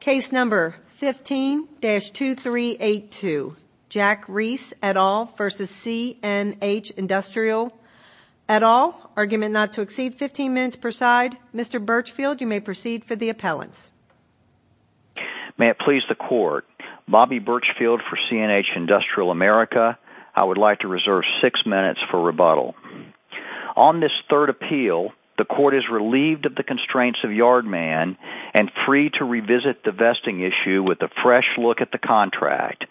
Case number 15-2382, Jack Reese et al. v. CNH Industrial et al., argument not to exceed 15 minutes per side. Mr. Birchfield, you may proceed for the appellants. May it please the court, Bobby Birchfield for CNH Industrial America. I would like to reserve six minutes for rebuttal. On this third appeal, the court is relieved of the vesting issue with a fresh look at the contract.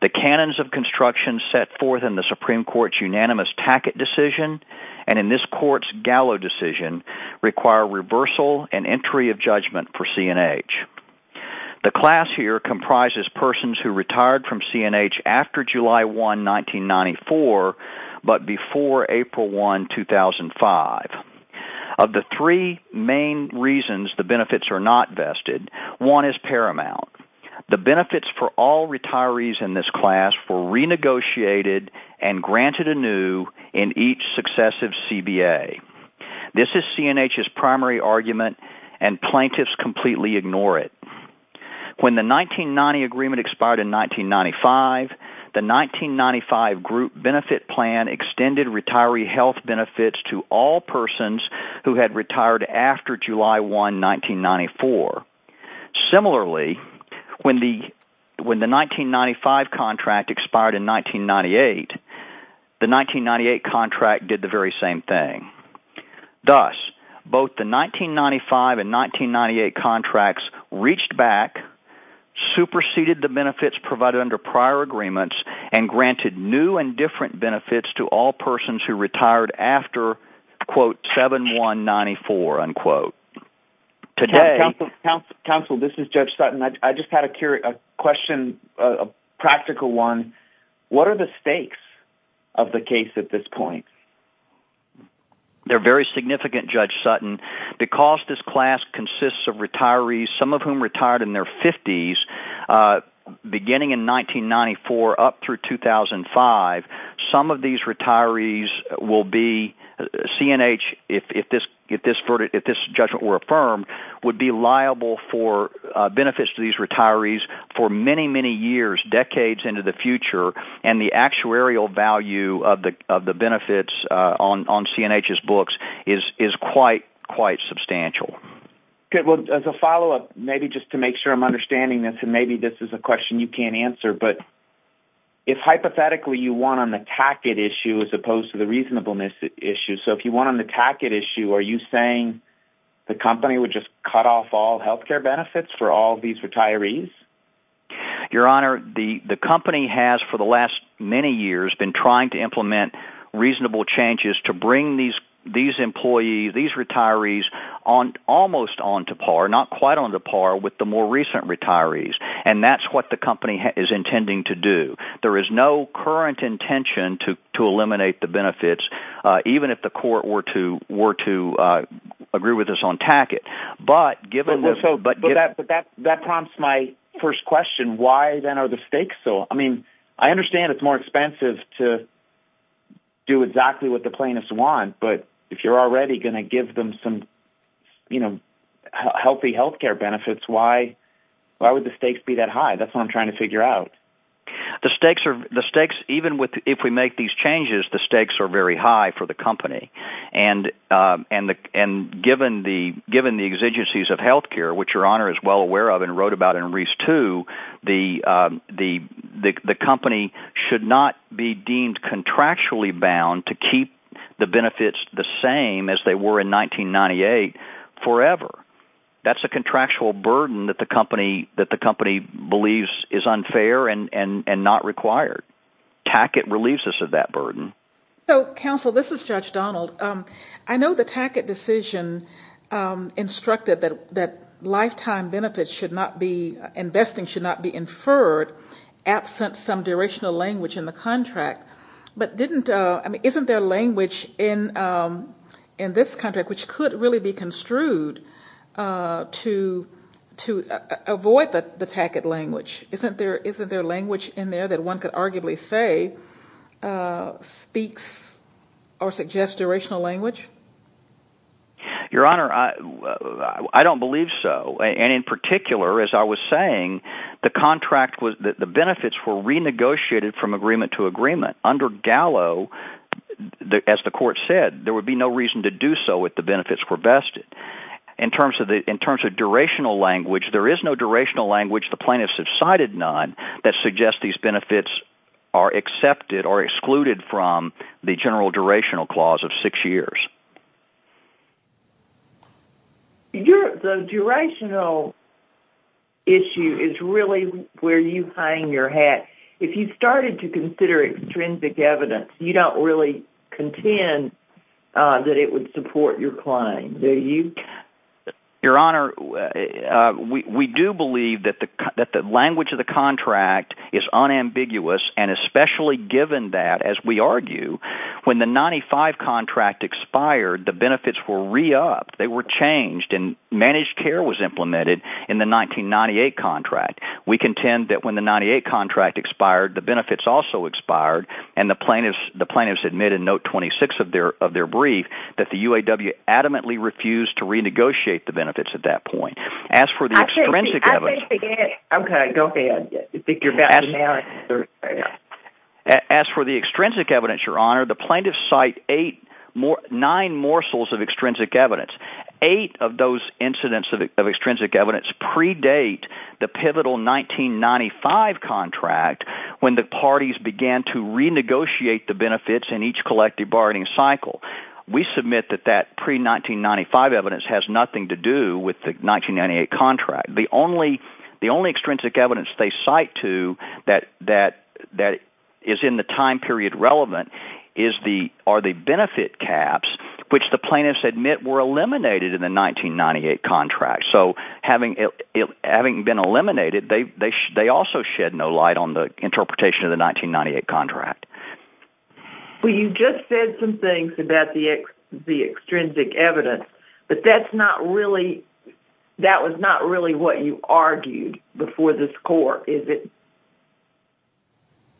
The canons of construction set forth in the Supreme Court's unanimous Tackett decision and in this court's Gallo decision require reversal and entry of judgment for CNH. The class here comprises persons who retired from CNH after July 1, 1994, but before April 1, 2005. Of the three main reasons the benefits are not vested, one is paramount. The benefits for all retirees in this class were renegotiated and granted anew in each successive CBA. This is CNH's primary argument and plaintiffs completely ignore it. When the 1990 agreement expired in 1995, the 1995 group benefit plan extended retiree health benefits to all persons who had retired after July 1, 1994. Similarly, when the 1995 contract expired in 1998, the 1998 contract did the very same thing. Thus, both the 1995 and 1998 contracts reached back, superseded the benefits provided under prior agreements, and granted new and different benefits to all persons who retired after quote, 7-1-94, unquote. Today... Counsel, this is Judge Sutton. I just had a question, a practical one. What are the stakes of the case at this point? They're very significant, Judge Sutton. Because this class consists of retirees, some of whom retired in their 50s, beginning in 1994 up through 2005, some of these retirees will be...CNH, if this judgment were affirmed, would be liable for benefits to these retirees for many, many years, decades into the future. The actuarial value of the benefits on CNH's books is quite substantial. Good. Well, as a follow-up, maybe just to make sure I'm understanding this, and maybe this is a question you can't answer, but if hypothetically you won on the tacket issue as opposed to the reasonableness issue, so if you won on the tacket issue, are you saying the company would just cut off all health care benefits for all these retirees? Your Honor, the company has, for the last many years, been trying to implement reasonable changes to bring these employees, these retirees, almost on to par, not quite on to par, with the more recent retirees. And that's what the company is intending to do. There is no current intention to eliminate the benefits, even if the court were to agree with us on tacket. But that prompts my first question, why then are the stakes so...I mean, I understand it's more expensive to do exactly what the plaintiffs want, but if you're already going to give them some healthy health care benefits, why would the stakes be that high? That's what I'm trying to figure out. The stakes are...even if we make these changes, the stakes are very high for the company. And given the exigencies of health care, which Your Honor is well aware of and wrote about in Reese too, the company should not be deemed contractually bound to keep the benefits the same as they were in 1998 forever. That's a contractual burden that the company believes is unfair and not required. Tacket relieves us of that burden. So, counsel, this is Judge Donald. I know the tacket decision instructed that lifetime benefits should not be...investing should not be inferred absent some durational language in the contract. But didn't...I mean, isn't there language in this contract which could really be construed to avoid the tacket language? Isn't there language in there that one could arguably say speaks or suggests durational language? Your Honor, I don't believe so. And in particular, as I was saying, the contract was...the benefits were renegotiated from agreement to agreement. Under Gallo, as the court said, there would be no reason to do so if the benefits were vested. In terms of durational language, there is no durational language, the plaintiffs have cited none, that suggests these benefits are accepted or excluded from the general durational clause of six years. Your...the durational issue is really where you hang your hat. If you started to consider extrinsic evidence, you don't really contend that it would support your claim, do you? Your Honor, we do believe that the language of the contract is unambiguous, and especially given that, as we argue, when the 95 contract expired, the benefits were re-upped, they were changed, and managed care was implemented in the 1998 contract. We contend that when the 98 contract expired, the benefits also expired, and the plaintiffs admitted in note to renegotiate the benefits at that point. As for the extrinsic evidence, Your Honor, the plaintiffs cite nine morsels of extrinsic evidence. Eight of those incidents of extrinsic evidence predate the pivotal 1995 contract, when the parties began to renegotiate the benefits. That has nothing to do with the 1998 contract. The only extrinsic evidence they cite to that is in the time period relevant are the benefit caps, which the plaintiffs admit were eliminated in the 1998 contract. So, having been eliminated, they also shed no light on the interpretation of the 1998 contract. Well, you just said some things about the extrinsic evidence, but that's not really, that was not really what you argued before this court, is it?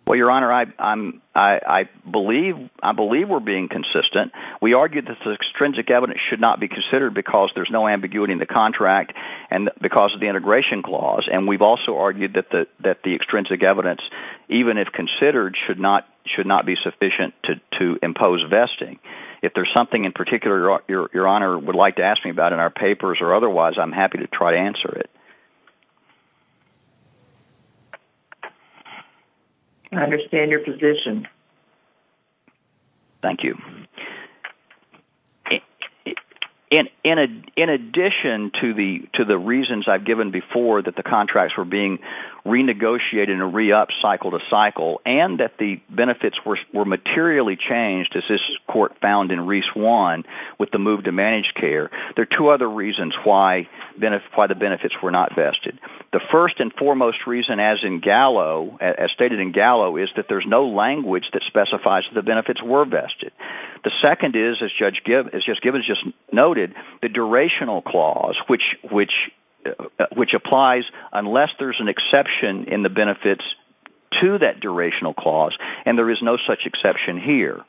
Well, Your Honor, I believe we're being consistent. We argued that the extrinsic evidence should not be considered because there's no ambiguity in the contract, and because of the integration clause, and we've also argued that the extrinsic evidence, even if considered, should not be sufficient to impose vesting. If there's something in particular Your Honor would like to ask me about in our papers, or otherwise, I'm happy to try to answer it. I understand your position. Thank you. In addition to the reasons I've given before that the contracts were being renegotiated and re-upped cycle to cycle, and that the benefits were materially changed, as this court found in Reese 1, with the move to managed care, there are two other reasons why the benefits were not vested. The first and foremost reason, as stated in Gallo, is that there's no language that specifies the benefits were vested. The second is, as Judge Gibbons just noted, the durational clause, which applies unless there's an exception in the benefits to that durational clause, and there is no such exception here.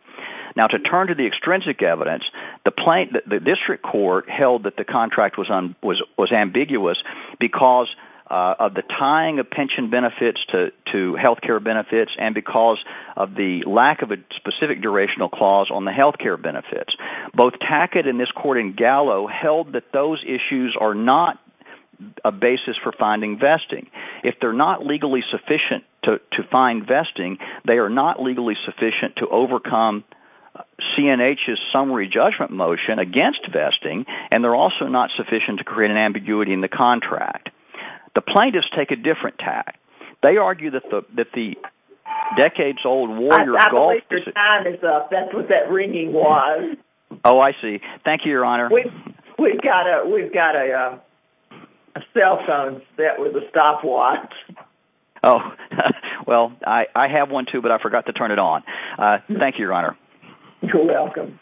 Now to turn to the extrinsic evidence, the district court held that the contract was ambiguous because of the tying of pension benefits to health care benefits, and because of the lack of a specific durational clause on the health care benefits. Both Tackett and this court in Gallo held that those issues are not a basis for finding vesting. If they're not legally sufficient to find vesting, they are not legally sufficient to overcome CNH's summary judgment motion against vesting, and they're also not sufficient to create an ambiguity in the contract. The plaintiffs take a different tack. They argue that the decades-old war year of golf... I believe your time is up. That's what that ringing was. Oh, I see. Thank you, Your Honor. We've got a cell phone set with a stopwatch. Oh, well, I have one too, but I forgot to turn it on. Thank you, Your Honor. You're welcome.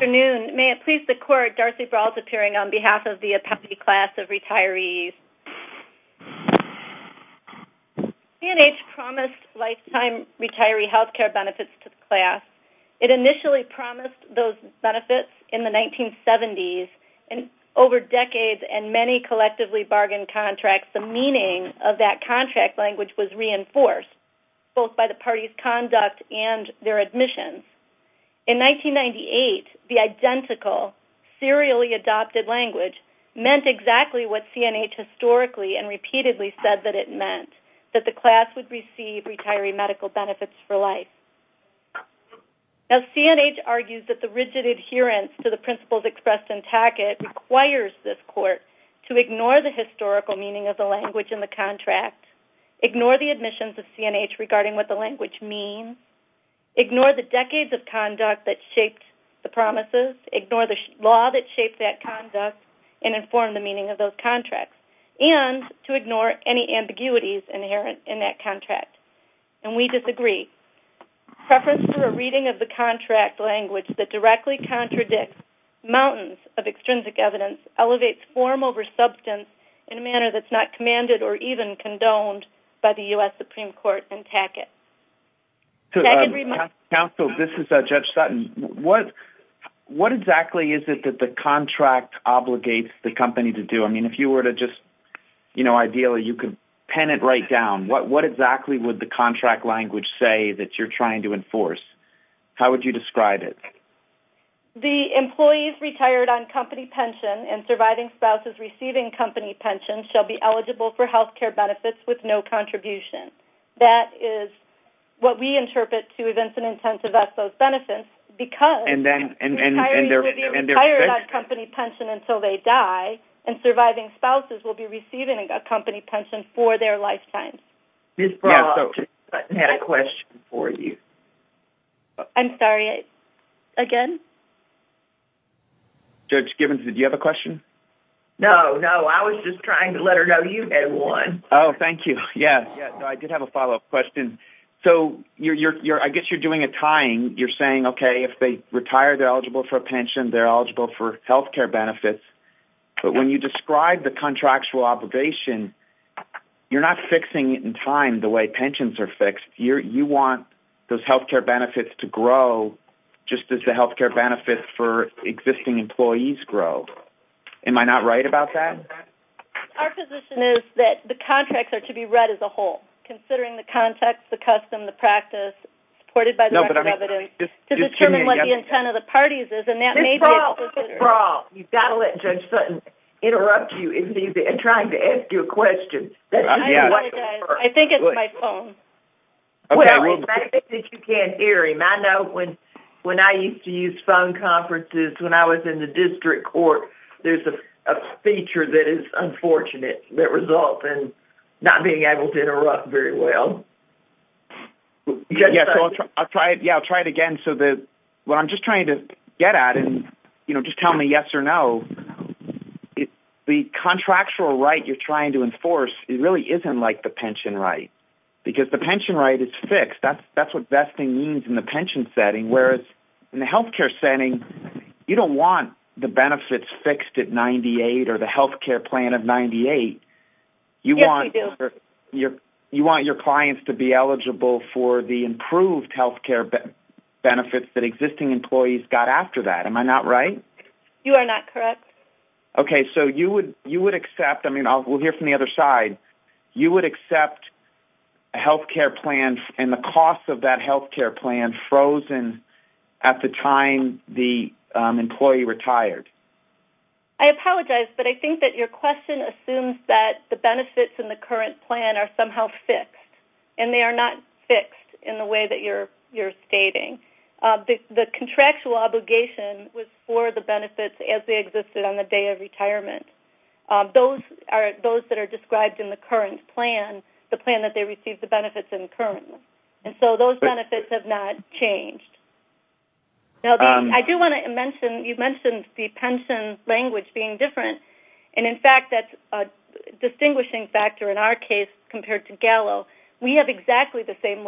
Good afternoon. May it please the court, Darcy Brault appearing on behalf of the appellee class of retirees. CNH promised lifetime retiree health care benefits to the class. It initially promised those benefits in the 1970s, and over decades and many collectively bargained contracts, the meaning of that contract language was reinforced, both by the party's conduct and their admissions. In 1998, the identical serially adopted language meant exactly what CNH historically and repeatedly said that it meant, that the class would receive retiree medical benefits for life. Now, CNH argues that the rigid adherence to the principles of historical meaning of the language in the contract, ignore the admissions of CNH regarding what the language means, ignore the decades of conduct that shaped the promises, ignore the law that shaped that conduct, and inform the meaning of those contracts, and to ignore any ambiguities inherent in that contract. And we disagree. Preference for a reading of the contract language that directly contradicts mountains of extrinsic evidence elevates form over substance in a manner that's not commanded or even condoned by the U.S. Supreme Court and Tackett. Counsel, this is Judge Sutton. What exactly is it that the contract obligates the company to do? I mean, if you were to just, you know, ideally you could pen it right down. What exactly would the contract language say that you're trying to enforce? How would you describe it? The employees retired on company pension and surviving spouses receiving company pension shall be eligible for health care benefits with no contribution. That is what we interpret to events and intent to vest those benefits because retirees will be retired on company pension until they die and surviving spouses will be receiving a company pension for their lifetime. Ms. Braw, I had a question for you. I'm sorry. Again? Judge Gibbons, did you have a question? No, no. I was just trying to let her know you had one. Oh, thank you. Yes. I did have a follow-up question. So, I guess you're doing a tying. You're saying, okay, if they retire, they're eligible for a pension. They're eligible for health care benefits. But when you describe the contractual obligation, you're not fixing it in time the way pensions are fixed. You want those health care benefits to grow just as the health care benefits for existing employees grow. Am I not right about that? Our position is that the contracts are to be read as a whole, considering the context, the custom, the practice supported by the record of evidence to determine what the intent of the parties is. Ms. Braw, you've got to let Judge Sutton interrupt you in trying to ask you a question. I think it's my phone. Okay. I think that you can't hear him. I know when I used to use phone conferences, when I was in the district court, there's a feature that is unfortunate that results in not being able to interrupt very well. Yes. I'll try it again. So, what I'm just trying to get at is, you know, just tell me yes or no, the contractual right you're trying to enforce, it really isn't like the pension right, because the pension right is fixed. That's what best thing means in the pension setting, whereas in the health care setting, you don't want the benefits fixed at 98 or the health care plan of 98. Yes, we do. You want your clients to be eligible for the improved health care benefits that existing employees got after that. Am I not right? You are not correct. Okay. So, you would accept, I mean, we'll hear from the other side, you would accept a health care plan and the cost of that health care plan frozen at the time the employee retired. I apologize, but I think that your question assumes that the benefits in the current plan are somehow fixed, and they are not fixed in the way that you're stating. The contractual obligation was for the benefits as they existed on the day of retirement. Those that are described in the current plan, the plan that they received the benefits in currently, and so those benefits have not changed. Now, I do want to mention, you mentioned the pension language being different, and in fact that's a distinguishing factor in our case compared to Gallo. We have exactly the same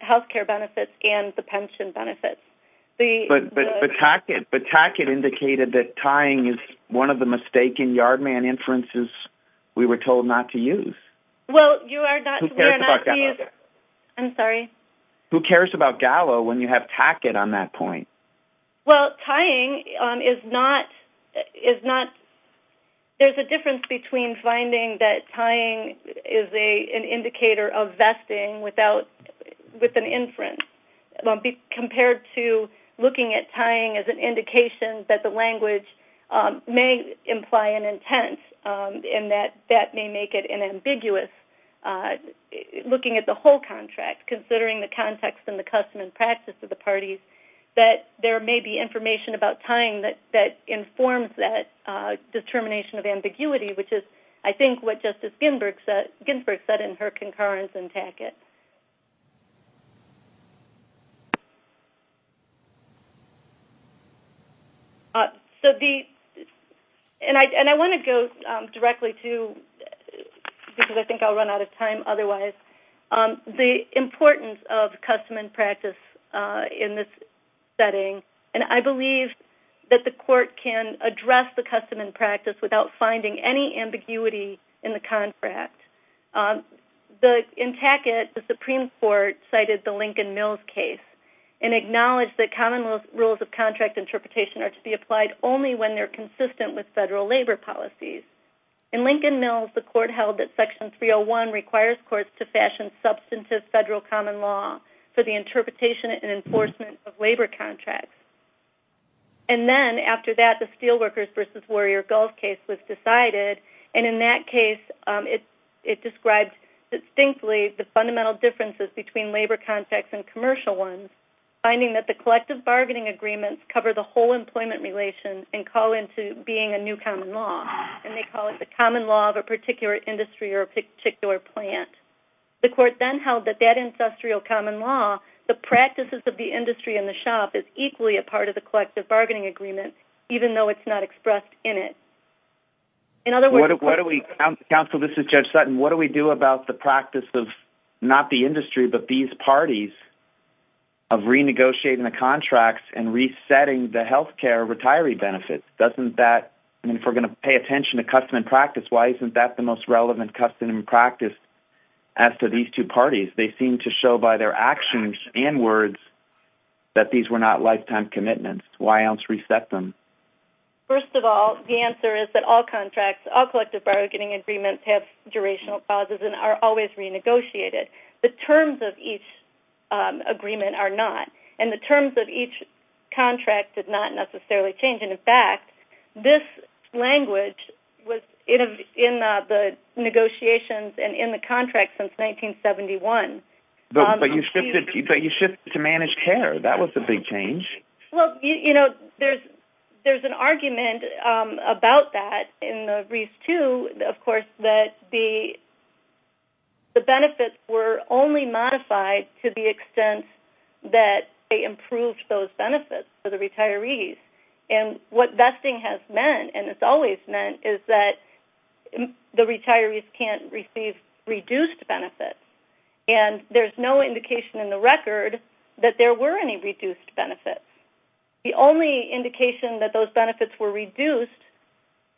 health care benefits and the pension benefits. But Tackett indicated that tying is one of the mistaken Yardman inferences we were told not to use. Well, you are not... Who cares about Gallo? I'm sorry? Who cares about Gallo when you have Tackett on that point? Well, tying is not... There's a difference between finding that tying is an indicator of vesting with an inference compared to looking at tying as an indication that the language may imply an intent and that that may make it an ambiguous... Looking at the whole contract, considering the context and the custom and practice of the parties, that there may be information about tying that informs that determination of ambiguity, which is, I think, what Justice Ginsburg said in her concurrence in Tackett. And I want to go directly to, because I think I'll run out of time otherwise, the importance of custom and practice in this setting, and I believe that the court can address the custom and practice without finding any ambiguity in the contract. In Tackett, the Supreme Court cited the Lincoln-Mills case and acknowledged that common rules of contract interpretation are to be applied only when they're consistent with federal labor policies. In Lincoln-Mills, the court held that Section 301 requires courts to fashion substantive federal common law for the interpretation and enforcement of labor contracts. And then, after that, the Steelworkers v. Warrior Gulf case was decided, and in that case, it described distinctly the fundamental differences between labor contracts and commercial ones, finding that the collective bargaining agreements cover the whole employment relation and call into being a new common law, and they call it the common law of a particular industry or a particular plant. The court then held that that ancestral common law, the practices of the industry and the plant, should be a part of the collective bargaining agreement, even though it's not expressed in it. In other words... What do we... Counsel, this is Judge Sutton. What do we do about the practice of not the industry but these parties of renegotiating the contracts and resetting the health care retiree benefits? Doesn't that... I mean, if we're going to pay attention to custom and practice, why isn't that the most relevant custom and practice as to these two parties? They seem to show by their actions and words that these were not lifetime commitments. Why else reset them? First of all, the answer is that all contracts, all collective bargaining agreements have durational pauses and are always renegotiated. The terms of each agreement are not, and the terms of each contract did not necessarily change. In fact, this language was in the negotiations and in the contract since 1971. But you shifted to managed care. That was the big change. Well, you know, there's an argument about that in the Reef II, of course, that the benefits were only modified to the extent that they improved those benefits for the retirees. And what vesting has meant, and it's always meant, is that the retirees can't receive reduced benefits. And there's no indication in the record that there were any reduced benefits. The only indication that those benefits were reduced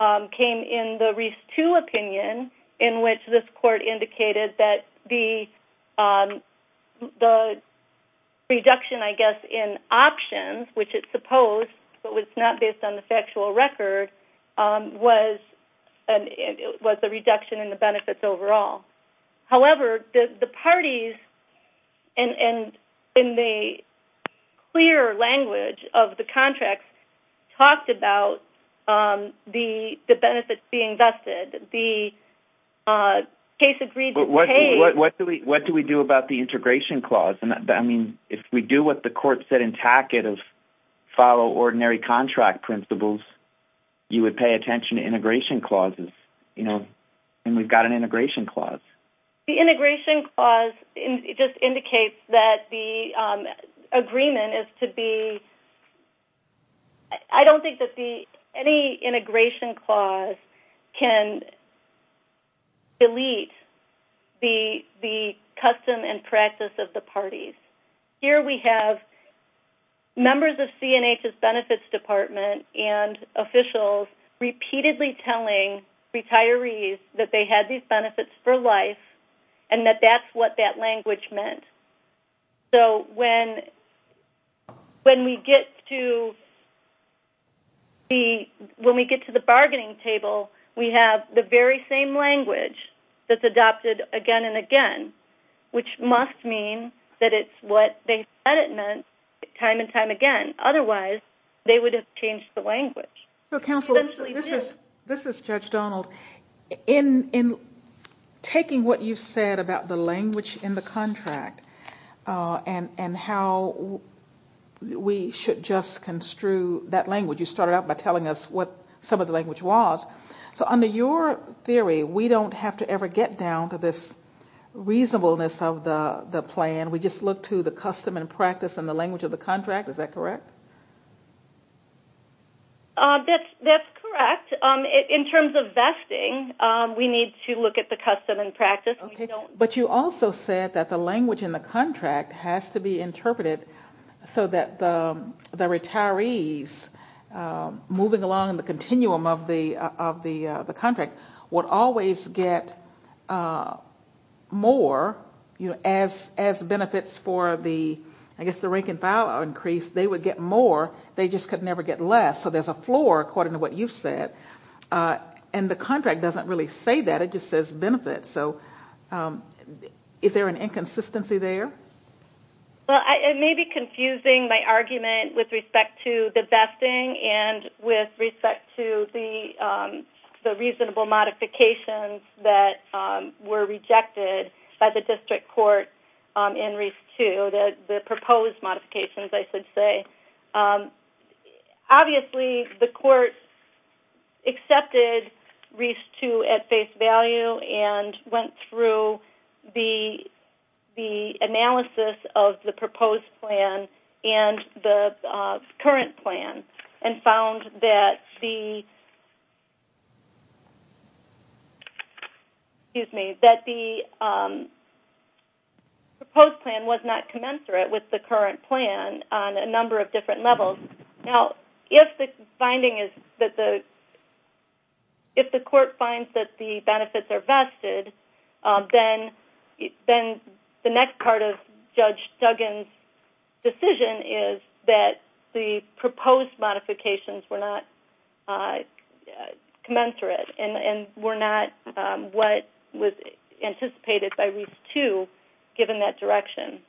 came in the Reef II opinion in which this court indicated that the reduction, I guess, in options, which it supposed but was not based on the factual record, was the reduction in the benefits overall. However, the parties, and in the clear language of the contracts, talked about the benefits being vested. The case agreed to pay... But what do we do about the integration clause? I mean, if we do what the court said in Tackett of follow ordinary contract principles, you would pay attention to integration clauses. And we've got an integration clause. The integration clause just indicates that the agreement is to be... I don't think that any integration clause can delete the custom and practice of the parties. Here we have members of CNH's benefits department and officials repeatedly telling retirees that they had these benefits for life and that that's what that language meant. So when we get to the bargaining table, we have the very same language that's adopted again and again, which must mean that it's what they said it meant time and time again. Otherwise, they would have changed the language. Counsel, this is Judge Donald. In taking what you said about the language in the contract and how we should just construe that language, you started out by telling us what some of the language was. So under your theory, we don't have to ever get down to this reasonableness of the plan. We just look to the custom and practice and the language of the contract. Is that correct? That's correct. In terms of vesting, we need to look at the custom and practice. But you also said that the language in the contract has to be interpreted so that the retirees moving along in the continuum of the contract would always get more as benefits for the rank-and-file increase. They would get more. They just could never get less. So there's a floor, according to what you said. And the contract doesn't really say that. It just says benefits. So is there an inconsistency there? It may be confusing, my argument, with respect to the vesting and with respect to the reasonable modifications that were rejected by the district court in REIS-2, the proposed modifications, I should say. Obviously, the court accepted REIS-2 at face value and went through the analysis of the excuse me, that the proposed plan was not commensurate with the current plan on a number of different levels. Now, if the court finds that the benefits are vested, then the next part of Judge Duggan's decision is that the proposed modifications were not commensurate and were not what was anticipated by REIS-2, given that direction.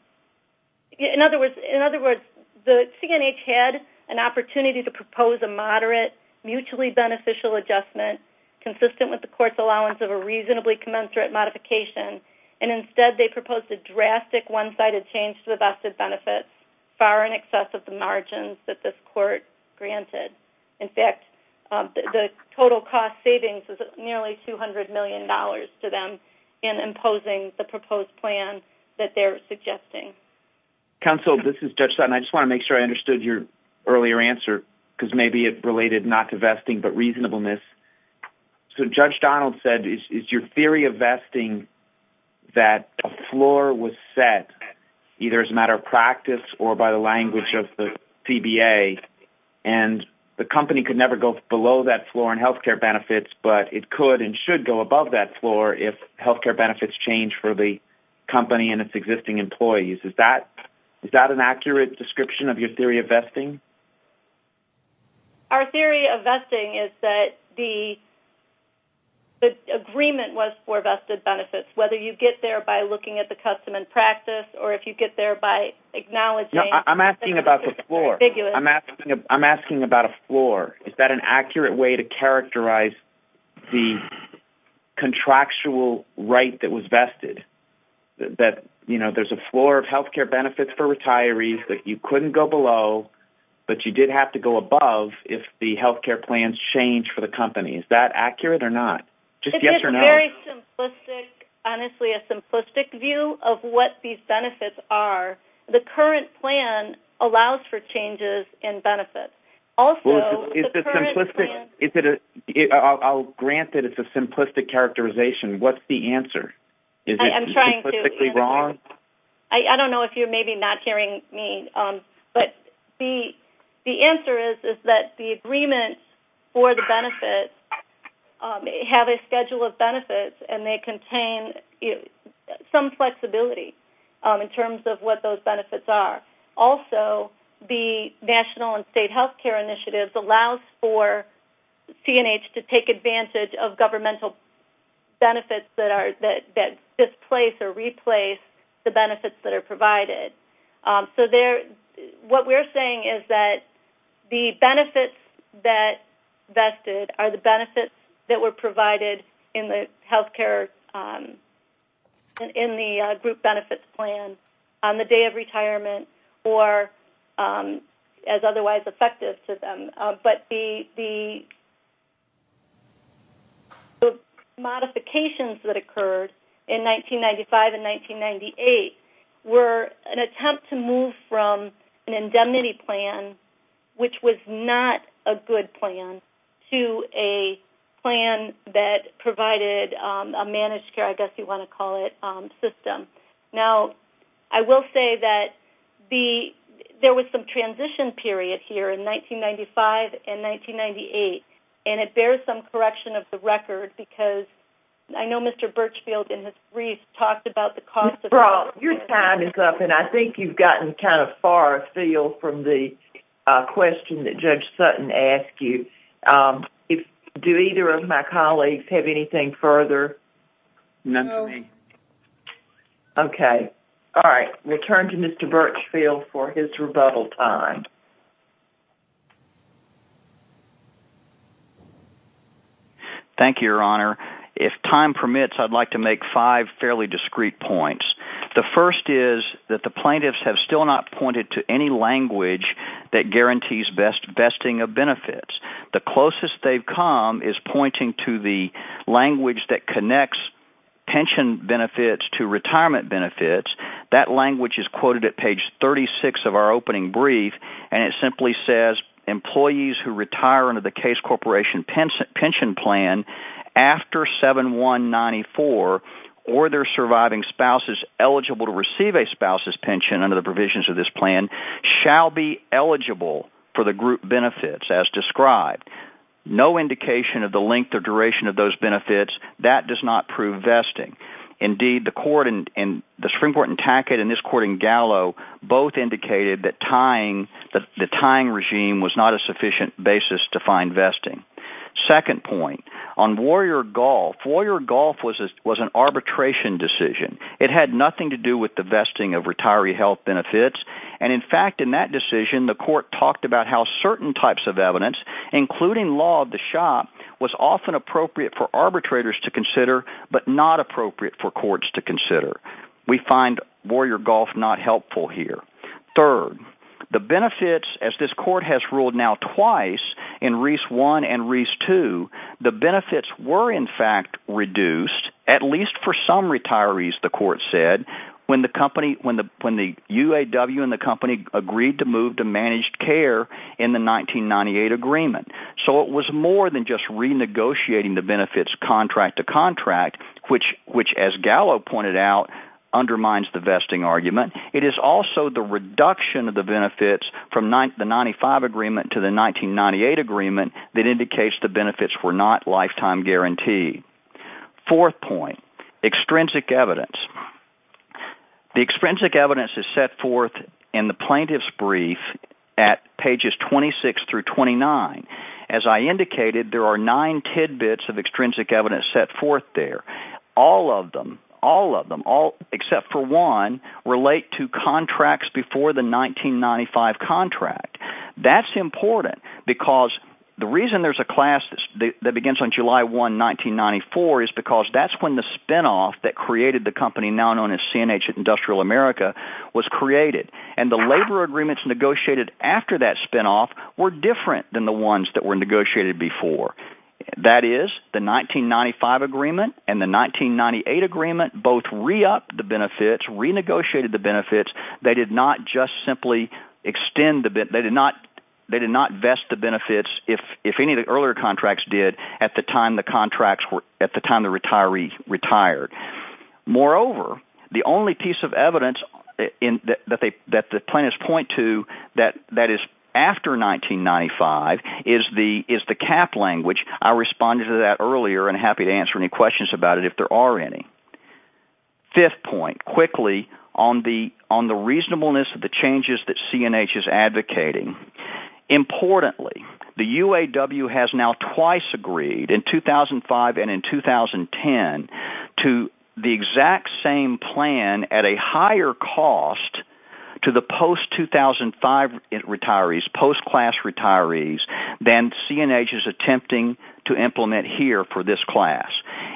In other words, the CNH had an opportunity to propose a moderate, mutually beneficial adjustment consistent with the court's allowance of a reasonably commensurate modification. And instead, they proposed a drastic one-sided change to the vested benefits, far in excess of the margins that this court granted. In fact, the total cost savings was nearly $200 million to them in imposing the proposed plan that they're suggesting. Counsel, this is Judge Sutton. I just want to make sure I understood your earlier answer, because maybe it related not to vesting but reasonableness. So Judge Donald said, is your theory of vesting that a floor was set either as a matter of practice or by the language of the CBA, and the company could never go below that floor in health care benefits, but it could and should go above that floor if health care benefits change for the company and its existing employees? Is that an accurate description of your theory of vesting? Our theory of vesting is that the agreement was for vested benefits, whether you get there by looking at the custom and practice, or if you get there by acknowledging... No, I'm asking about the floor. I'm asking about a floor. Is that an accurate way to characterize the contractual right that was vested, that, you couldn't go below, but you did have to go above if the health care plans changed for the company? Is that accurate or not? Just yes or no. It's a very simplistic, honestly, a simplistic view of what these benefits are. The current plan allows for changes in benefits. Also, the current plan... Is it simplistic? I'll grant that it's a simplistic characterization. What's the answer? I'm trying to... Is it simplistically wrong? I don't know if you're maybe not hearing me, but the answer is that the agreement for the benefits have a schedule of benefits, and they contain some flexibility in terms of what those benefits are. Also, the national and state health care initiatives allows for CNH to take advantage of governmental benefits that displace or replace the benefits that are provided. So what we're saying is that the benefits that vested are the benefits that were provided in the health care, in the group benefits plan on the day of retirement or as otherwise effective to them. But the modifications that occurred in 1995 and 1998 were an attempt to move from an indemnity plan, which was not a good plan, to a plan that provided a managed care, I guess you want to call it, system. Now, I will say that there was some transition period here in 1995 and 1998, and it bears some correction of the record because I know Mr. Birchfield in his brief talked about the cost of... Your time is up, and I think you've gotten kind of far afield from the question that Judge Sutton asked you. Do either of my colleagues have anything further? None for me. Okay. All right. We'll turn to Mr. Birchfield for his rebuttal time. Thank you, Your Honor. If time permits, I'd like to make five fairly discreet points. The first is that the plaintiffs have still not pointed to any language that guarantees besting of benefits. The closest they've come is pointing to the language that connects pension benefits to retirement benefits. That language is quoted at page 36 of our opening brief, and it simply says, Employees who retire under the Case Corporation Pension Plan after 7-1-94, or their surviving spouses eligible to receive a spouse's pension under the provisions of this plan, shall be eligible for the group benefits as described. No indication of the length or duration of those benefits. That does not prove vesting. Indeed, the Supreme Court in Tackett and this court in Gallo both indicated that the tying regime was not a sufficient basis to find vesting. Second point, on Warrior Golf, Warrior Golf was an arbitration decision. It had nothing to do with the vesting of retiree health benefits. And in fact, in that decision, the court talked about how certain types of evidence, including law of the shop, was often appropriate for arbitrators to consider, but not appropriate for courts to consider. We find Warrior Golf not helpful here. Third, the benefits, as this court has ruled now twice in Reese 1 and Reese 2, the benefits were in fact reduced, at least for some retirees, the court said, when the UAW and the company agreed to move to managed care in the 1998 agreement. So it was more than just renegotiating the benefits contract to contract, which as Gallo pointed out, undermines the vesting argument. It is also the reduction of the benefits from the 1995 agreement to the 1998 agreement that indicates the benefits were not lifetime guaranteed. Fourth point, extrinsic evidence. The extrinsic evidence is set forth in the plaintiff's brief at pages 26-29. As I indicated, there are nine tidbits of extrinsic evidence set forth there. All of them, all of them, except for one, relate to contracts before the 1995 contract. That's important because the reason there's a class that begins on July 1, 1994, is because that's when the spinoff that created the company now known as C&H Industrial America was created. And the labor agreements negotiated after that spinoff were different than the ones that were negotiated before. That is, the 1995 agreement and the 1998 agreement both re-upped the benefits, renegotiated the benefits. They did not just simply extend the benefits. They did not vest the benefits, if any of the earlier contracts did, at the time the retiree retired. Moreover, the only piece of evidence that the plaintiffs point to that is after 1995 is the cap language. I responded to that earlier, and I'm happy to answer any questions about it if there are any. Fifth point, quickly, on the reasonableness of the changes that C&H is advocating. Importantly, the UAW has now twice agreed, in 2005 and in 2010, to the exact same plan at a higher cost to the post-2005 retirees, post-class retirees, than C&H is attempting to implement here for this class.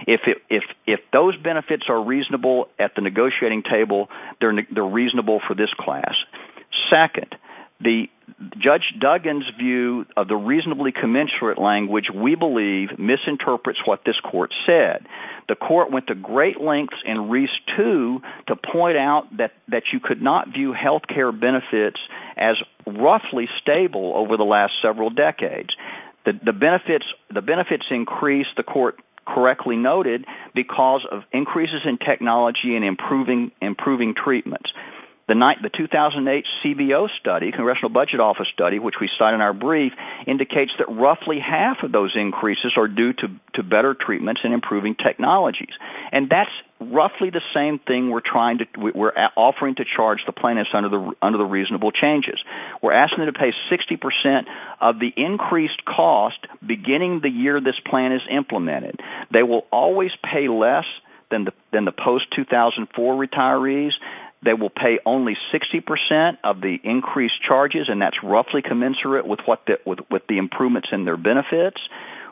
If those benefits are reasonable at the negotiating table, they're reasonable for this class. Second, Judge Duggan's view of the reasonably commensurate language, we believe, misinterprets what this court said. The court went to great lengths in Reese 2 to point out that you could not view health care benefits as roughly stable over the last several decades. The benefits increased, the court correctly noted, because of increases in technology and improving treatments. The 2008 CBO study, Congressional Budget Office study, which we cite in our brief, indicates that roughly half of those increases are due to better treatments and improving technologies. And that's roughly the same thing we're offering to charge the plaintiffs under the reasonable changes. We're asking them to pay 60% of the increased cost beginning the year this plan is implemented. They will always pay less than the post-2004 retirees. They will pay only 60% of the increased charges, and that's roughly commensurate with the improvements in their benefits.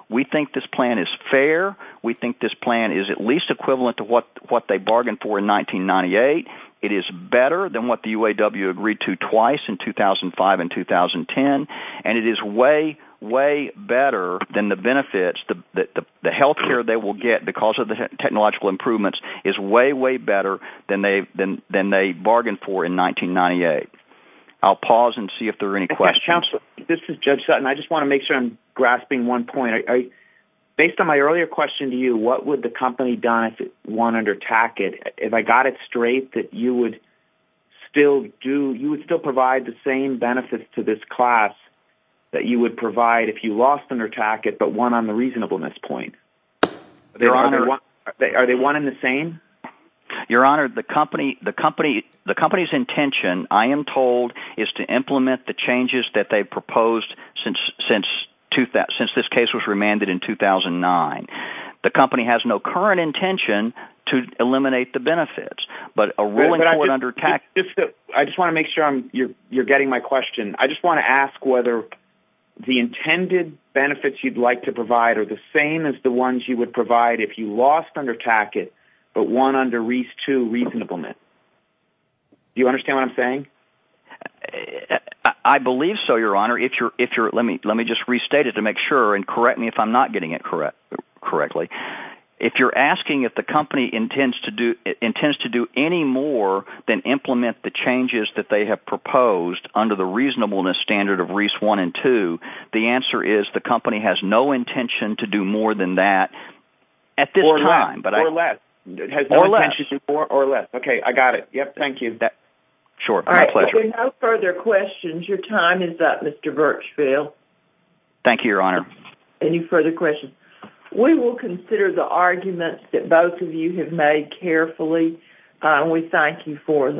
We think this plan is fair. We think this plan is at least equivalent to what they bargained for in 1998. It is better than what the UAW agreed to twice in 2005 and 2010, and it is way, way better than the benefits. The health care they will get because of the technological improvements is way, way better than they bargained for in 1998. I'll pause and see if there are any questions. This is Judge Sutton. I just want to make sure I'm grasping one point. Based on my earlier question to you, what would the company have done if it wanted to attack it? If I got it straight that you would still provide the same benefits to this class that you would provide if you lost and attacked it but won on the reasonableness point? Are they one and the same? Your Honor, the company's intention, I am told, is to implement the changes that they proposed since this case was remanded in 2009. The company has no current intention to eliminate the benefits, but a ruling for an under attack… I just want to make sure you're getting my question. I just want to ask whether the intended benefits you'd like to provide are the same as the ones you would provide if you lost and attacked it but won under reasonableness. I believe so, Your Honor. Let me just restate it to make sure and correct me if I'm not getting it correctly. If you're asking if the company intends to do any more than implement the changes that they have proposed under the reasonableness standard of Reese one and two, the answer is the company has no intention to do more than that at this time. More or less. More or less. Okay, I got it. Thank you. My pleasure. If there are no further questions, your time is up, Mr. Birchfield. Thank you, Your Honor. Any further questions? We will consider the arguments that both of you have made carefully. We thank you for them.